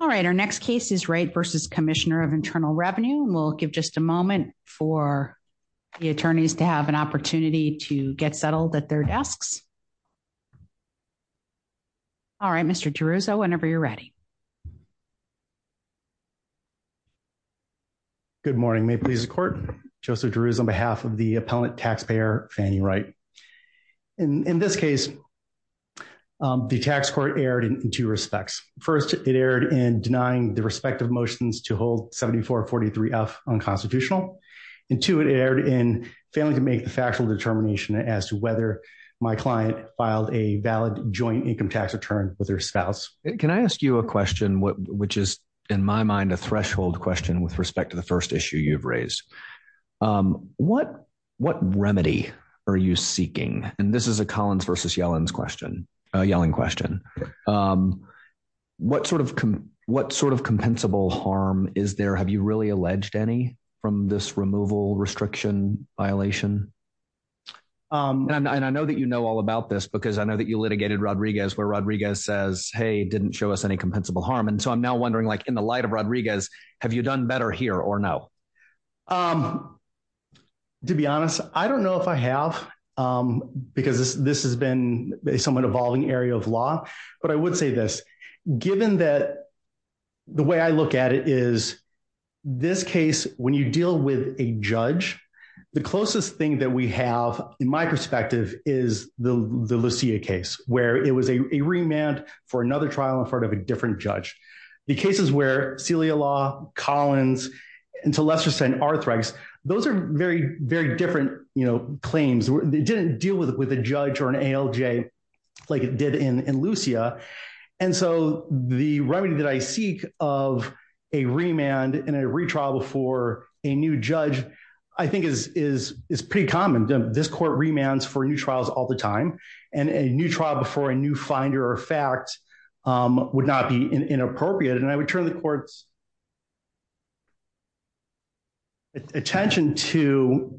All right, our next case is Wright v. Commissioner of Internal Revenue. We'll give just a moment for the attorneys to have an opportunity to get settled at their desks. All right, Mr. DeRuzzo, whenever you're ready. Good morning, may it please the court. Joseph DeRuzzo on behalf of the appellant taxpayer Fannie Wright. In this case, the tax court erred in two respects. First, it erred in denying the respective motions to hold 7443F unconstitutional. And two, it erred in failing to make the factual determination as to whether my client filed a valid joint income tax return with their spouse. Can I ask you a question, which is, in my mind, a threshold question with respect to the first issue you've raised. What what remedy are you seeking? And this is a Collins v. Yellen's question, a yelling question. What sort of what sort of compensable harm is there? Have you really alleged any from this removal restriction violation? And I know that you know all about this, because I know that you litigated Rodriguez where Rodriguez says, hey, didn't show us any compensable harm. And so I'm now wondering, like in the light of Rodriguez, have you done better here or no? To be honest, I don't know if I have. Because this this has been a somewhat evolving area of law. But I would say this, given that the way I look at it is, this case, when you deal with a judge, the closest thing that we have, in my perspective, is the Lucia case, where it was a remand for another trial in front of a different judge. The cases where Celia Law, Collins, and to lesser extent, Arthrex, those are very, very different, you know, claims, they didn't deal with it with a judge or an ALJ, like it did in Lucia. And so the remedy that I seek of a remand and a retrial before a new judge, I think is is is pretty common. This court remands for new trials all the time, and a new trial before a new finder or fact would not be inappropriate. And I would turn the court's attention to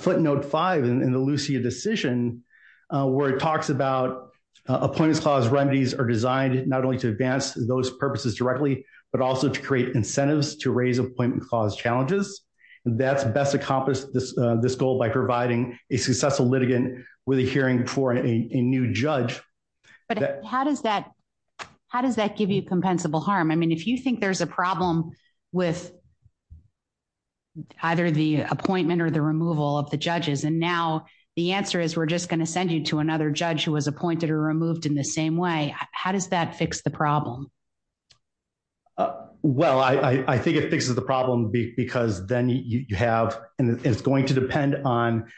footnote five in the Lucia decision, where it talks about appointments clause remedies are designed not only to advance those purposes directly, but also to create incentives to raise appointment clause challenges. That's best accomplished this, this goal by providing a successful litigant with a hearing for a new judge. But how does that? How does that give you compensable harm? I either the appointment or the removal of the judges? And now, the answer is, we're just going to send you to another judge who was appointed or removed in the same way. How does that fix the Well, I think it fixes the problem because then you have, and it's going to depend on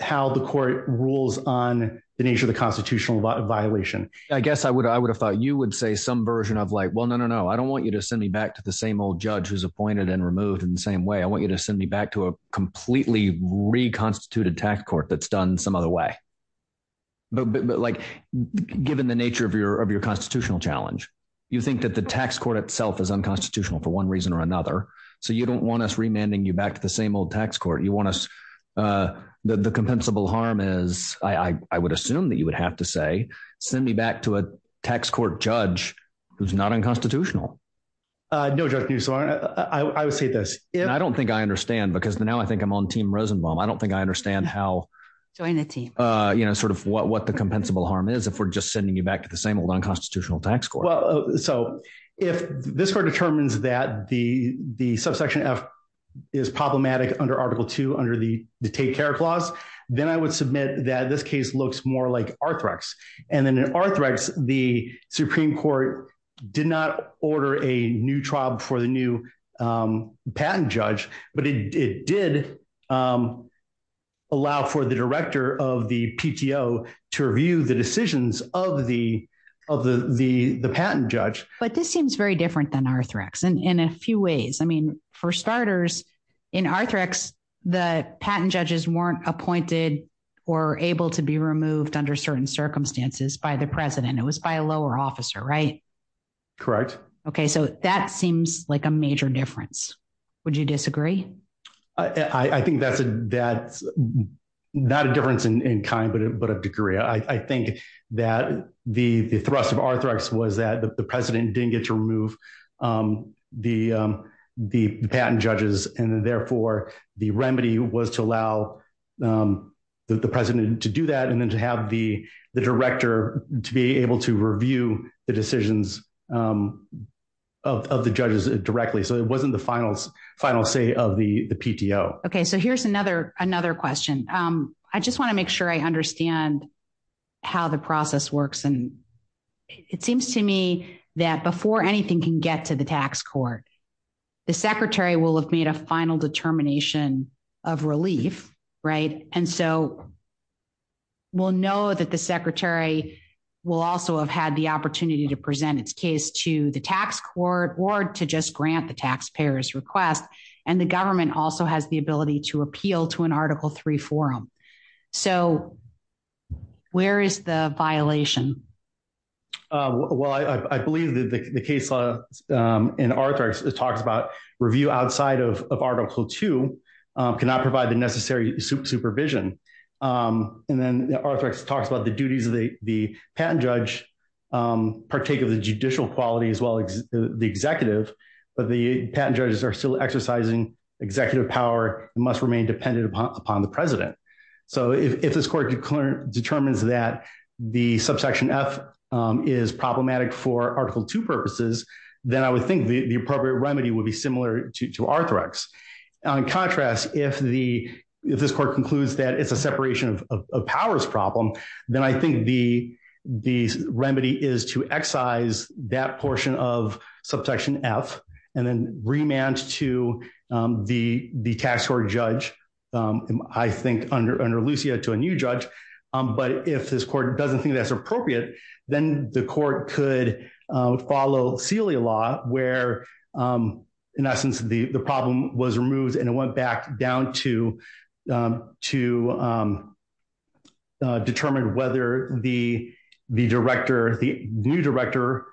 how the court rules on the nature of the constitutional violation. I guess I would I would have thought you would say some version of like, well, no, no, no, I don't want you to send me back to the same old judge who's appointed and removed in the same way. I want you to send me back to a completely reconstituted tax court that's done some other way. But like, given the nature of your of your constitutional challenge, you think that the tax court itself is unconstitutional for one reason or another. So you don't want us remanding you back to the same old tax court you want us the compensable harm is I would assume that you would have to say, send me back to a tax court judge, who's not unconstitutional. No, I would say this. I don't think I understand because now I think I'm on team Rosenbaum. I don't think I understand how to join the team. You know, sort of what what the compensable harm is, if we're just sending you back to the same old unconstitutional tax court. So if this were determines that the the subsection F is problematic under Article Two under the take care clause, then I would submit that this case looks more like Arthrex. And then in Arthrex, the Supreme Court did not order a new trial before the new patent judge, but it did allow for the director of the PTO to review the decisions of the of the the the patent judge, but this seems very different than Arthrex and in a few ways, I mean, for starters, in Arthrex, the patent judges weren't appointed, or able to be removed under certain circumstances by the president, it was by a lower officer, right? Correct. Okay, so that seems like a major difference. Would you disagree? I think that's a that's not a difference in kind, but but a degree, I think that the the thrust of Arthrex was that the president didn't get to remove the, the patent judges, and therefore, the remedy was to allow the president to do that. And then to have the director to be able to review the decisions of the judges directly. So it wasn't the finals, final say of the PTO. Okay, so here's another another question. I just want to make sure I understand how the process works. And it seems to me that before anything can get to the tax court, the Secretary will have made a final determination of relief, right? And so we'll know that the Secretary will also have had the opportunity to present its case to the tax court or to just grant the taxpayers request. And the government also has the ability to appeal to an Article Three forum. So where is the violation? Well, I believe that the case law in Arthrex talks about review outside of Article Two, cannot provide the necessary supervision. And then Arthrex talks about the duties of the patent judge partake of the judicial quality as well as the executive, but the patent judges are still exercising executive power must remain dependent upon the president. So if this court determines that the subsection F is problematic for Article Two purposes, then I would think the appropriate remedy would be similar to Arthrex. On contrast, if this court concludes that it's a separation of powers problem, then I think the remedy is to excise that portion of subsection F, and then remand to the tax court judge, I think under Lucia to a new judge. But if this court doesn't think that's appropriate, then the court could follow Celia law where, in essence, the problem was removed, and it went back down to, to determine whether the, the director, the new director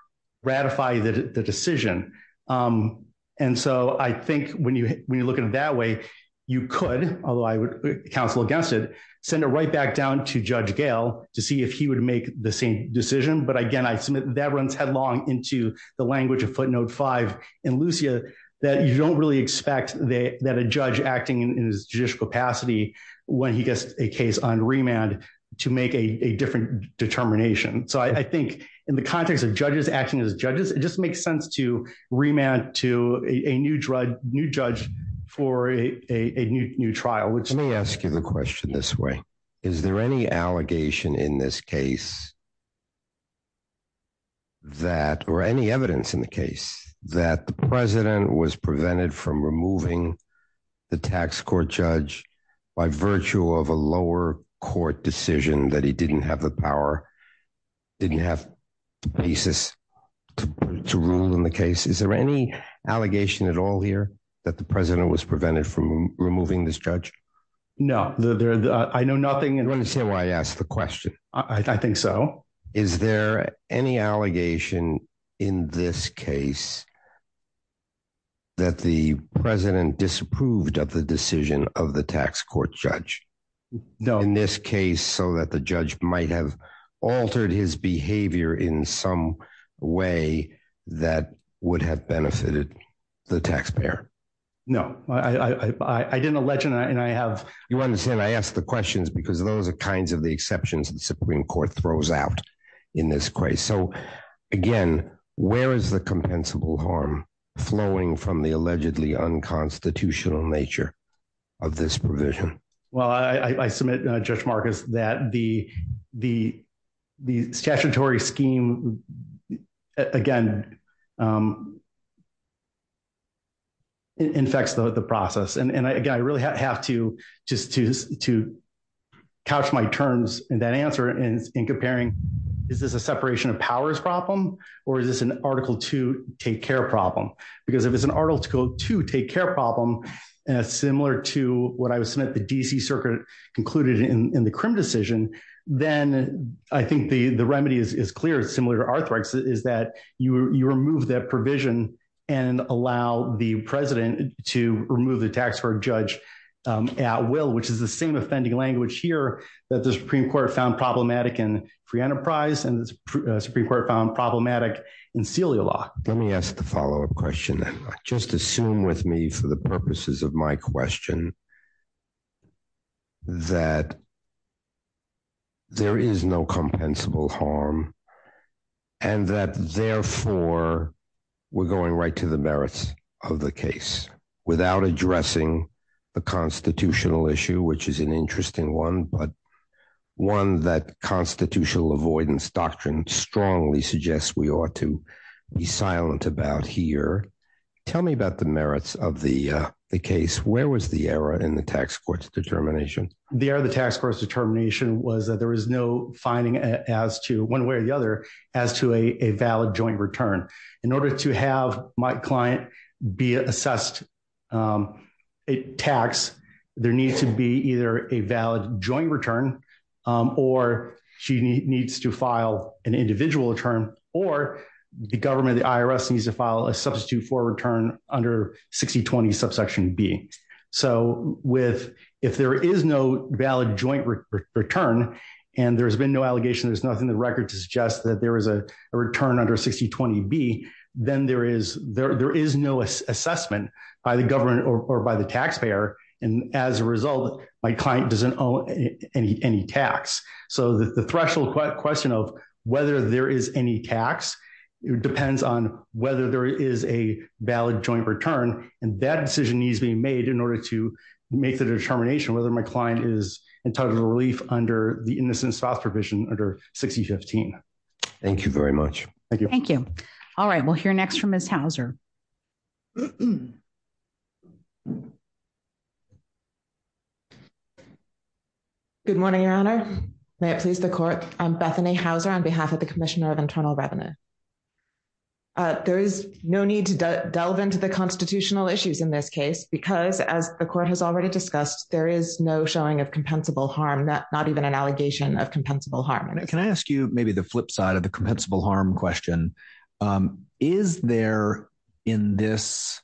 ratify the decision. And so I think when you when you look at it that way, you could, although I would counsel against it, send it right back down to Judge Gale to see if he would make the same decision. But again, I submit that runs headlong into the language of footnote five, and Lucia, that you don't really expect that a judge acting in his judicial capacity, when he gets a case on remand, to make a different determination. So I think in the context of judges acting as judges, it just makes sense to remand to a new drug new judge for a new trial, which may ask you the question this way. Is there any allegation in this case? That or any evidence in the case that the President was prevented from removing the tax court judge, by virtue of a lower court decision that he didn't have the power, didn't have the basis to rule in the case? Is there any allegation at all here that the President was prevented from removing this judge? No, there's I know nothing. And when you say why I asked the question, I think so. Is there any allegation in this case, that the President disapproved of the decision of the tax court judge? No, in this case, so that the judge might have altered his behavior in some way that would have benefited the taxpayer? No, I didn't a legend. And I have, you understand, I asked the questions, because those are kinds of the exceptions and Supreme Court throws out in this case. So, again, where is the compensable harm flowing from the allegedly unconstitutional nature of this provision? Well, I submit, Judge Marcus, that the the the statutory scheme, again, infects the process. And again, I really have to just to couch my terms in that answer and in comparing, is this a separation of powers problem? Or is this an article to take care problem? Because if it's an article to take care problem, similar to what I was at the DC circuit, included in the crim decision, then I think the the remedy is clear, similar to arthritis is that you remove that provision and allow the President to remove the tax court judge at will, which is the same offending language here that the Supreme Court found problematic in free enterprise and Supreme Court found problematic in Celia law. Let me ask the follow up question. Just assume with me for the purposes of my question, that there is no compensable harm, and that therefore, we're going right to the merits of the case without addressing the constitutional issue, which is an interesting one, but one that constitutional avoidance doctrine strongly suggests we ought to be silent about here. Tell me about the merits of the case. Where was the error in the tax court's determination? The error of the tax court's determination was that there is no finding as to one way or the other, as to a valid joint return. In order to have my client be assessed a tax, there needs to be either a valid joint return, or she needs to file an individual return, or the government, the IRS needs to file a substitute for return under 6020, subsection B. So if there is no valid joint return, and there's been no allegation, there's nothing in the record to suggest that there is a return under 6020 B, then there is no assessment by the government or by the taxpayer. And as a result, my client doesn't owe any tax. So the threshold question of whether there is any tax depends on whether there is a valid joint return, and that decision needs to be made in order to make the determination whether my client is entitled to relief under the innocence file provision under 6015. Thank you very much. Thank you. Thank you. All right. We'll hear next from Ms. Good morning, Your Honor. May it please the court. I'm Bethany Hauser on behalf of the Commissioner of Internal in this case, because as the court has already discussed, there is no showing of compensable harm that not even an allegation of compensable harm. Can I ask you maybe the flip side of the compensable harm question? Is there in this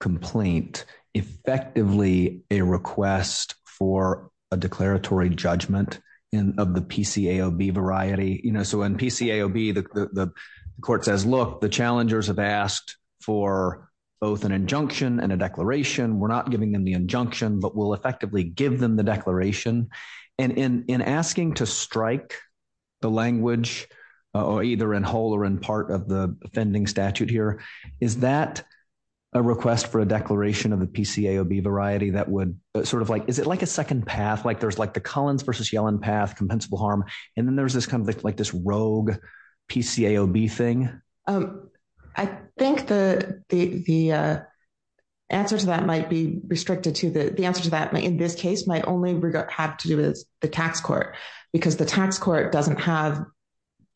complaint, effectively a request for a declaratory judgment in of the PCAOB variety, you know, so in PCAOB, the court says, Look, the challengers have asked for both an injunction and a declaration, we're not giving them the injunction, but we'll effectively give them the declaration. And in asking to strike the language, or either in whole or in part of the offending statute here, is that a request for a declaration of the PCAOB variety that would sort of like, is it like a second path, like there's like the Collins versus Yellen path compensable harm. And then there's this kind of like this rogue PCAOB thing. Um, I think the the answer to that might be restricted to the answer to that in this case might only have to do with the tax court, because the tax court doesn't have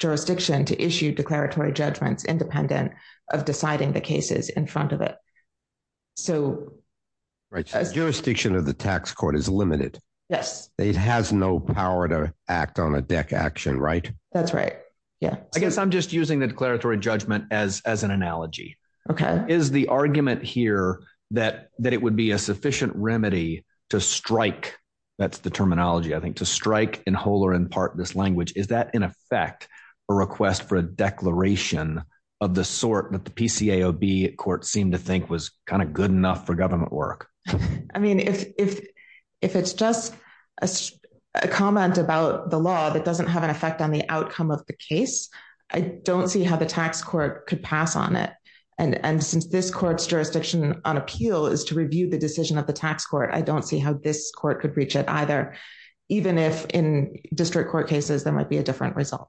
jurisdiction to issue declaratory judgments independent of deciding the cases in front of it. right, jurisdiction of the tax court is limited. Yes, it has no power to act on a deck action, right? That's right. Yeah, I guess I'm just using the declaratory judgment as as an analogy. Okay, is the argument here that that it would be a sufficient remedy to strike? That's the terminology I think to strike in whole or in part this language? Is that in effect, a request for a declaration of the sort that the PCAOB court seemed to think was kind of good enough for government work? I mean, if, if, if it's just a comment about the law that doesn't have an effect on the outcome of the case, I don't see how the tax court could pass on it. And since this court's jurisdiction on appeal is to review the decision of the tax court, I don't see how this court could reach it either. Even if in district court cases, there might be a different result.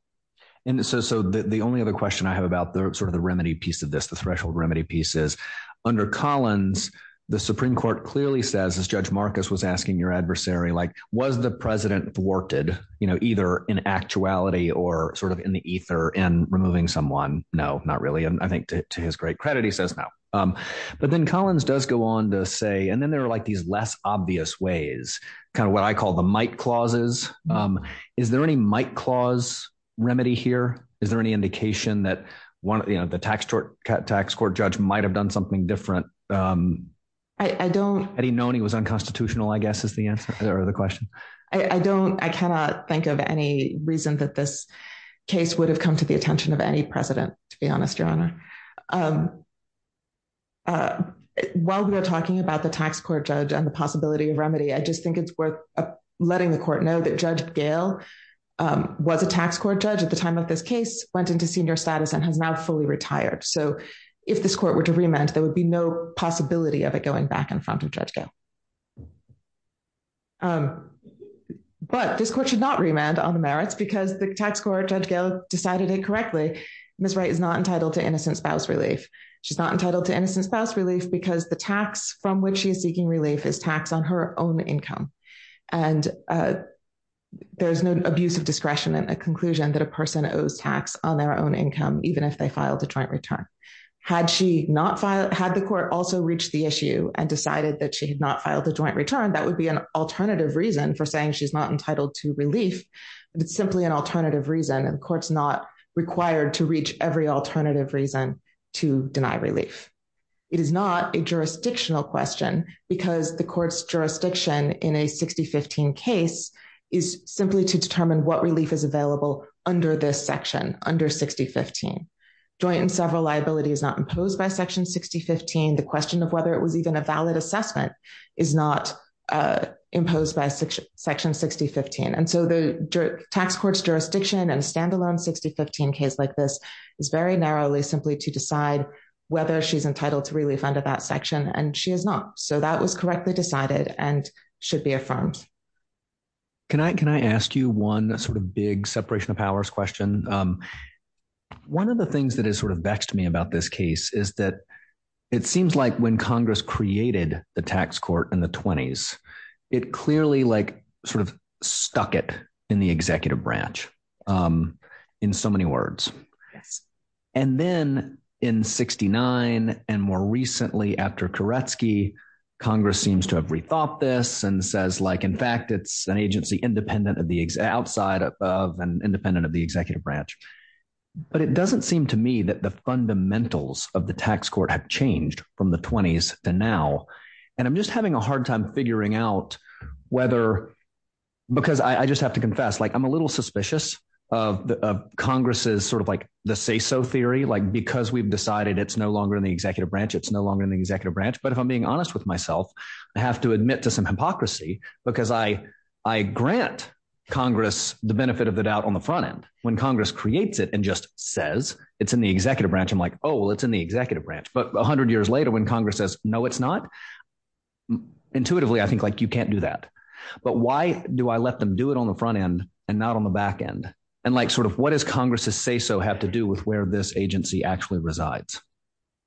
And so so the only other question I have about the sort of the remedy piece of this, the threshold remedy pieces, under Collins, the Supreme Court clearly says, as Judge Marcus was asking your adversary, like, was the president thwarted, you know, in actuality, or sort of in the ether and removing someone? No, not really. And I think, to his great credit, he says now. But then Collins does go on to say, and then there are like these less obvious ways, kind of what I call the might clauses. Is there any might clause remedy here? Is there any indication that one of the tax court, tax court judge might have done something different? I don't... Had he known he was unconstitutional, I guess, is the answer or the question? I don't, I cannot think of any reason that this case would have come to the attention of any president, to be honest, Your Honor. While we are talking about the tax court judge and the possibility of remedy, I just think it's worth letting the court know that Judge Gale was a tax court judge at the time of this case went into senior status and has now fully retired. So if this court were to remand, there would be no possibility of it going back in front of Judge Gale. But this court should not remand on the merits because the tax court Judge Gale decided it correctly. Ms. Wright is not entitled to innocent spouse relief. She's not entitled to innocent spouse relief because the tax from which she is seeking relief is tax on her own income. And there's no abuse of discretion in a conclusion that a person owes tax on their own income, even if they filed a joint return. Had she not filed, had the court also reached the issue and decided that she had not filed a joint return, that would be an alternative reason for saying she's not entitled to relief. It's simply an alternative reason and courts not required to reach every alternative reason to deny relief. It is not a jurisdictional question because the court's jurisdiction in a 6015 case is simply to determine what relief is available under this section under 6015. Joint and several liability is not imposed by section 6015. The question of whether it was even a valid assessment is not imposed by section 6015. And so the tax court's jurisdiction and a standalone 6015 case like this is very narrowly simply to decide whether she's entitled to relief under that section and she is not. So that was correctly decided and should be affirmed. Can I can I ask you one sort of big separation of powers question. One of the things that is sort of vexed me about this case is that it seems like when Congress created the tax court in the 20s, it clearly like sort of stuck it in the executive branch in so many words. And then in 69, and more recently after Koretsky, Congress seems to have rethought this and says like, in fact, it's an agency independent of the outside of and independent of the executive branch. But it doesn't seem to me that the fundamentals of the tax court have changed from the 20s to now. And I'm just having a hard time figuring out whether because I just have to confess, like, I'm a little suspicious of the Congress's sort of like the say so theory, like, because we've decided it's no longer in the executive branch, it's no longer in the executive branch. But if I'm being honest with myself, I have to admit to some hypocrisy, because I, I grant Congress the benefit of the doubt on the front end, when Congress creates it, and just says, it's in the executive branch. I'm like, oh, well, it's in the executive branch. But 100 years later, when Congress says no, it's not. Intuitively, I think, like, you can't do that. But why do I let them do it on the front end, and not on the back end? And like, sort of what is Congress's say so have to do with where this agency actually resides?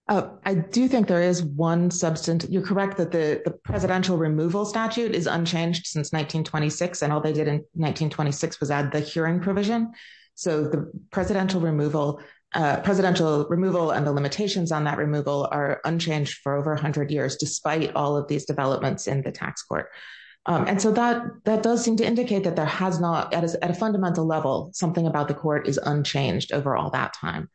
I do think there is one substance, you're correct that the presidential removal statute is unchanged since 1926. And all they did in 1926 was add the hearing provision. So the presidential removal, presidential removal, and the limitations on that removal are unchanged for over 100 years, despite all of these developments in the tax court. And so that that does seem to indicate that there has not at a fundamental level, something about the court is unchanged over all that time.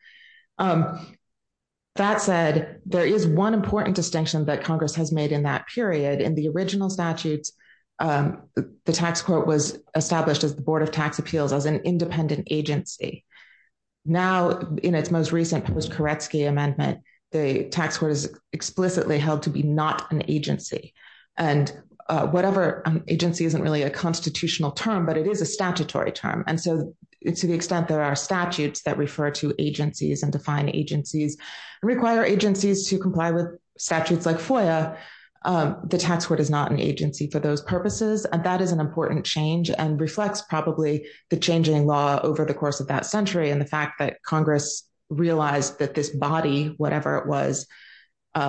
That said, there is one important distinction that Congress has made in that period in the original statutes, the tax court was established as the Board of Tax Appeals as an independent agency. Now, in its most recent post Koretsky amendment, the tax court is explicitly held to be not an agency. And whatever agency isn't really a constitutional term, but it is a statutory term. And so it's to the extent there are statutes that refer to agencies and define agencies, require agencies to comply with statutes like FOIA, the tax court is not an agency for those purposes. And that is an important change and reflects probably the changing law over the course of that century. And the fact that Congress realized that this body, whatever it was,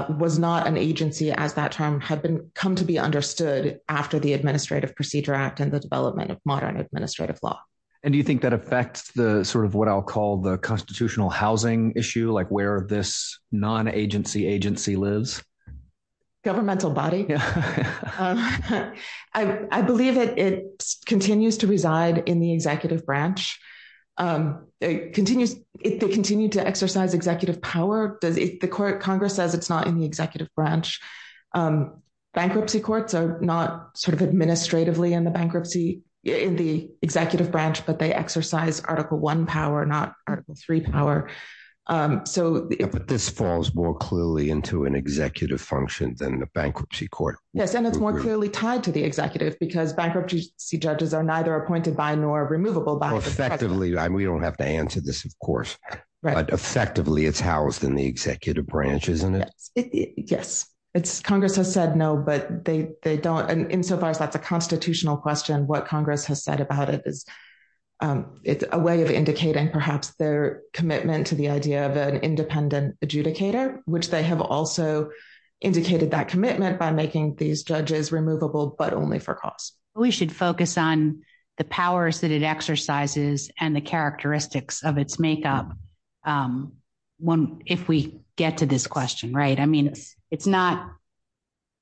was not an agency as that term had been come to be understood after the Administrative Procedure Act and the development of modern administrative law. And do you think that affects the sort of what I'll call the constitutional housing issue, like where this non agency agency lives? Governmental body. I believe it continues to reside in the executive branch. It continues, it continued to exercise executive power, does it the court Congress says it's not in the executive branch. Bankruptcy courts are not sort of administratively in the bankruptcy in the executive branch, but they exercise Article One power, not Article Three power. So this falls more clearly into an executive function than the bankruptcy court. Yes. And it's more clearly tied to the executive because bankruptcy judges are neither appointed by nor removable by effectively, we don't have to answer this, of course. But effectively, it's housed in the executive branch, isn't it? Yes, it's Congress has said no, but they don't. And insofar as that's a constitutional question, what Congress has said about it is, it's a way of indicating perhaps their commitment to the idea of an independent adjudicator, which they have also indicated that commitment by making these judges removable, but only for costs. We should focus on the powers that it exercises and the characteristics of its makeup. One, if we get to this question, right, I mean, it's not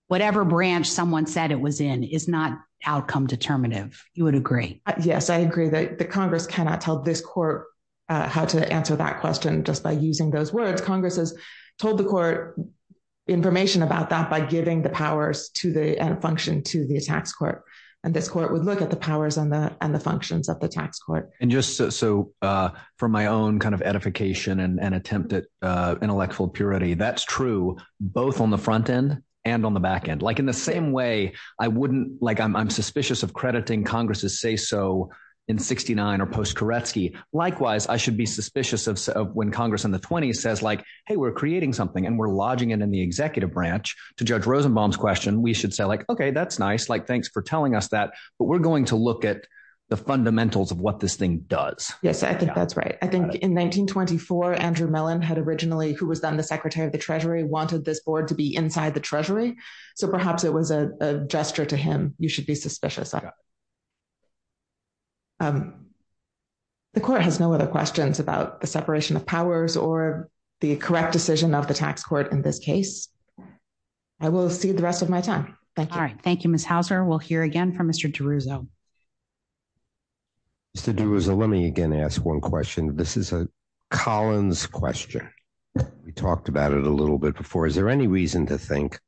whatever branch someone said it was in is not outcome determinative, you would agree? Yes, I agree that the Congress cannot tell this court how to answer that question. Just by using those words, Congress has told the court information about that by giving the powers to the end function to the tax court. And this court would look at the powers and the and the functions of the tax court. And just so for my own kind of edification and attempted intellectual purity, that's true, both on the front end, and on the back end, like in the same way, I wouldn't like I'm suspicious of crediting Congress's say so in 69, or post Koretsky. Likewise, I should be suspicious of when Congress in the 20s says like, hey, we're creating something and we're lodging it in the executive branch to judge Rosenbaum's question, we should say like, okay, that's nice. Like, thanks for telling us that. But we're going to look at the fundamentals of what this thing does. Yes, I think that's right. I think in 1924, Andrew Mellon had originally who was then the Secretary of the Treasury wanted this board to be inside the Treasury. So perhaps it was a gesture to him, you should be suspicious. The court has no other questions about the separation of powers or the correct decision of the tax court. In this case, I will see the rest of my time. Thank you. All right. Thank you, Miss Houser. We'll hear again from Mr. DeRuzzo. Mr. DeRuzzo, let me again ask one question. This is a Collins question. We talked about it a little bit before. Is there any reason to think,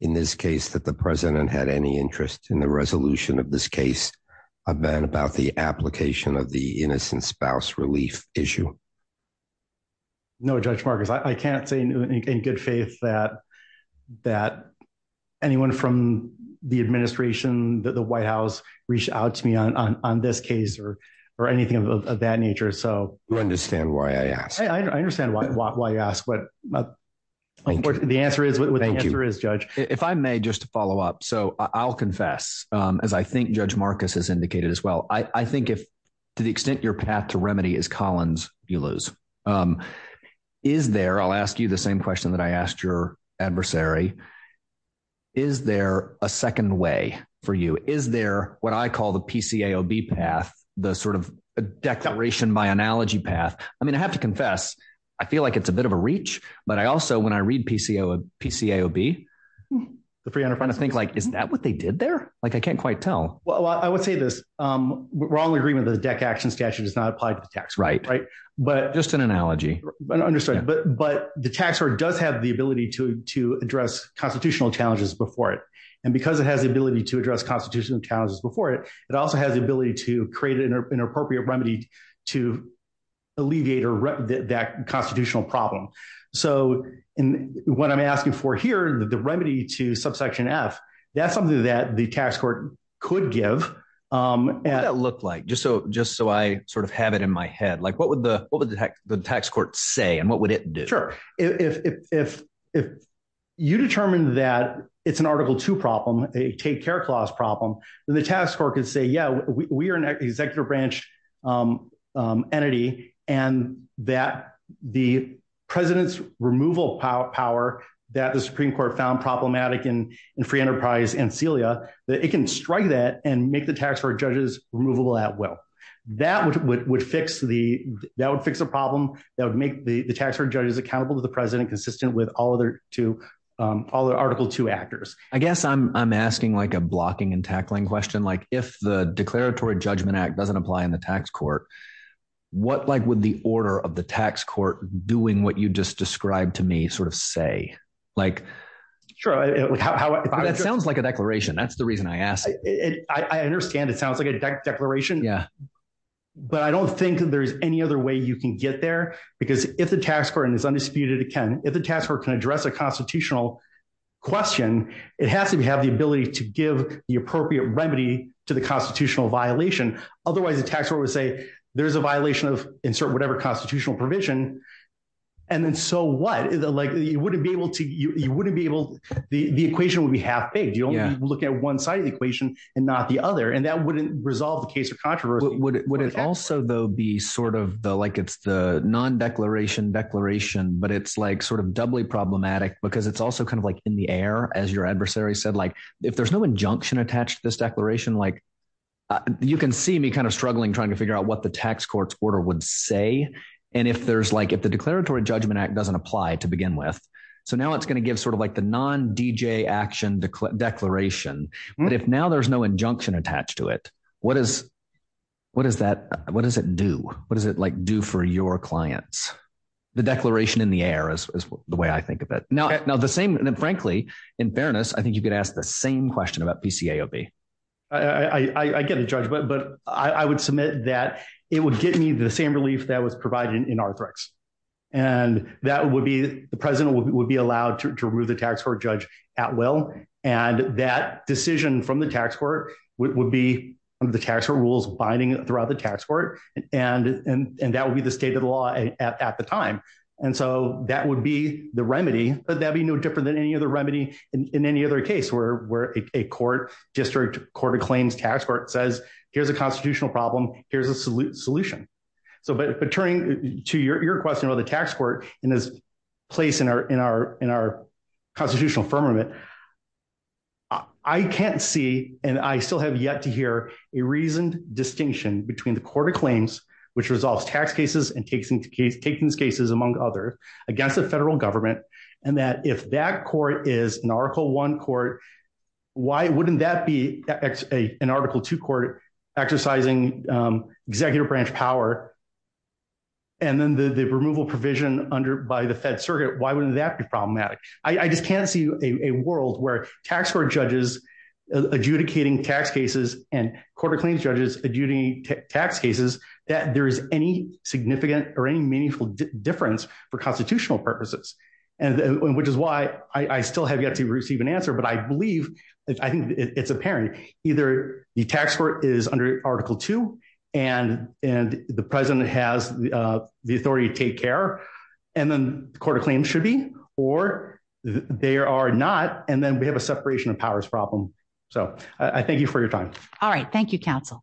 in this case, that the President had any interest in the resolution of this case event about the application of the innocent spouse relief issue? No, Judge Marcus, I can't say in good faith that that anyone from the administration that the White House reached out to me on on this case or, or anything of that nature. So you understand why I asked? I understand why you asked. But the answer is what the answer is, Judge. If I may just follow up. So I'll confess, as I think Judge Marcus has indicated as well, I think if to the extent your path to remedy is Collins, you lose. Is there, I'll ask you the same question that I asked your adversary. Is there a second way for you? Is there what I call the PCAOB path, the sort of declaration by analogy path? I mean, I have to confess, I feel like it's a bit of a reach. But I also when I read PCAOB, I think like, is that what they did there? Like, I can't quite tell. Well, I would say this wrong agreement, the DEC action statute is not applied to the tax. Right. Right. But just an analogy. But understood. But but the tax does have the ability to to address constitutional challenges before it. And because it has the ability to address constitutional challenges before it, it also has the ability to create an appropriate remedy to alleviate or that constitutional problem. So in what I'm asking for here, the remedy to subsection F, that's something that the tax court could give. And it looked like just so just so I sort of have it in my head, like, what would the what would the tax court say? And what would it do? Sure. If you determine that it's an Article Two problem, a take care clause problem, then the tax court could say, yeah, we are executive branch entity, and that the president's removal power that the Supreme Court found problematic in free enterprise and Celia, that it can strike that and make the tax court judges removable at will, that would fix the that would fix a problem that would make the tax court judges accountable to the president consistent with all other to all the Article Two actors, I guess I'm asking like a blocking and tackling question, like if the Declaratory Judgment Act doesn't apply in the tax court, what like with the order of the tax court doing what you just described to me sort of say, like, sure, how it sounds like a declaration. That's the reason I asked. I understand. It sounds like a declaration. Yeah. But I don't think there's any other way you can get there. Because if the tax court is undisputed, it can if the tax court can address a constitutional question, it has to have the ability to give the appropriate remedy to the constitutional violation. Otherwise, the tax court would say there's a violation of insert whatever constitutional provision. And then so what is the like, you wouldn't be able to you wouldn't be able, the equation would be half baked, you don't look at one side of the equation, and not the other. And that wouldn't resolve the case of controversy. Would it also though, be sort of the like, it's the non declaration declaration, but it's like sort of doubly problematic, because it's also kind of like in the air, as your adversary said, like, if there's no injunction attached to this declaration, like, you can see me kind of struggling trying to figure out what the tax court's order would say. And if there's like, if the declaratory Judgment Act doesn't apply to begin with, so now it's going to give sort of like the non DJ action declaration. But if now there's no injunction attached to it, what is what is that? What does it do? What does it like do for your clients? The declaration in the air is the way I think of it now. Now the same and frankly, in fairness, I think you could ask the same question about PCA OB. I get a judgment, but I would submit that it would get me the same relief that was provided in our threats. And that would be the President would be allowed to remove the tax court judge at will. And that decision from the tax court would be the tax rules binding throughout the tax court. And, and that would be the state of the law at the time. And so that would be the remedy, but that'd be no different than any other remedy in any other case where we're a court district court of claims tax court says, here's a constitutional problem. Here's a solute solution. So but but turning to your question about the tax court in this place in our in our in our constitutional firmament. I can't see and I still have yet to hear a reasoned distinction between the court of claims, which resolves tax cases and takes into case takings cases among other against the federal government. And that if that court is an article one court, why wouldn't that be an article two court exercising executive branch power? And then the removal provision under by the Fed Circuit? Why wouldn't that be problematic? I just can't see a world where tax court judges, adjudicating tax cases, and quarter claims judges adjudicating tax cases, that there is any significant or any meaningful difference for constitutional purposes. And which is why I still have yet to receive an answer. But I believe I think it's apparent, either the tax court is under Article Two, and and the President has the authority to take care. And then the court of claims should be or there are not and then we have a separation of powers problem. So I thank you for your time. All right. Thank you, counsel.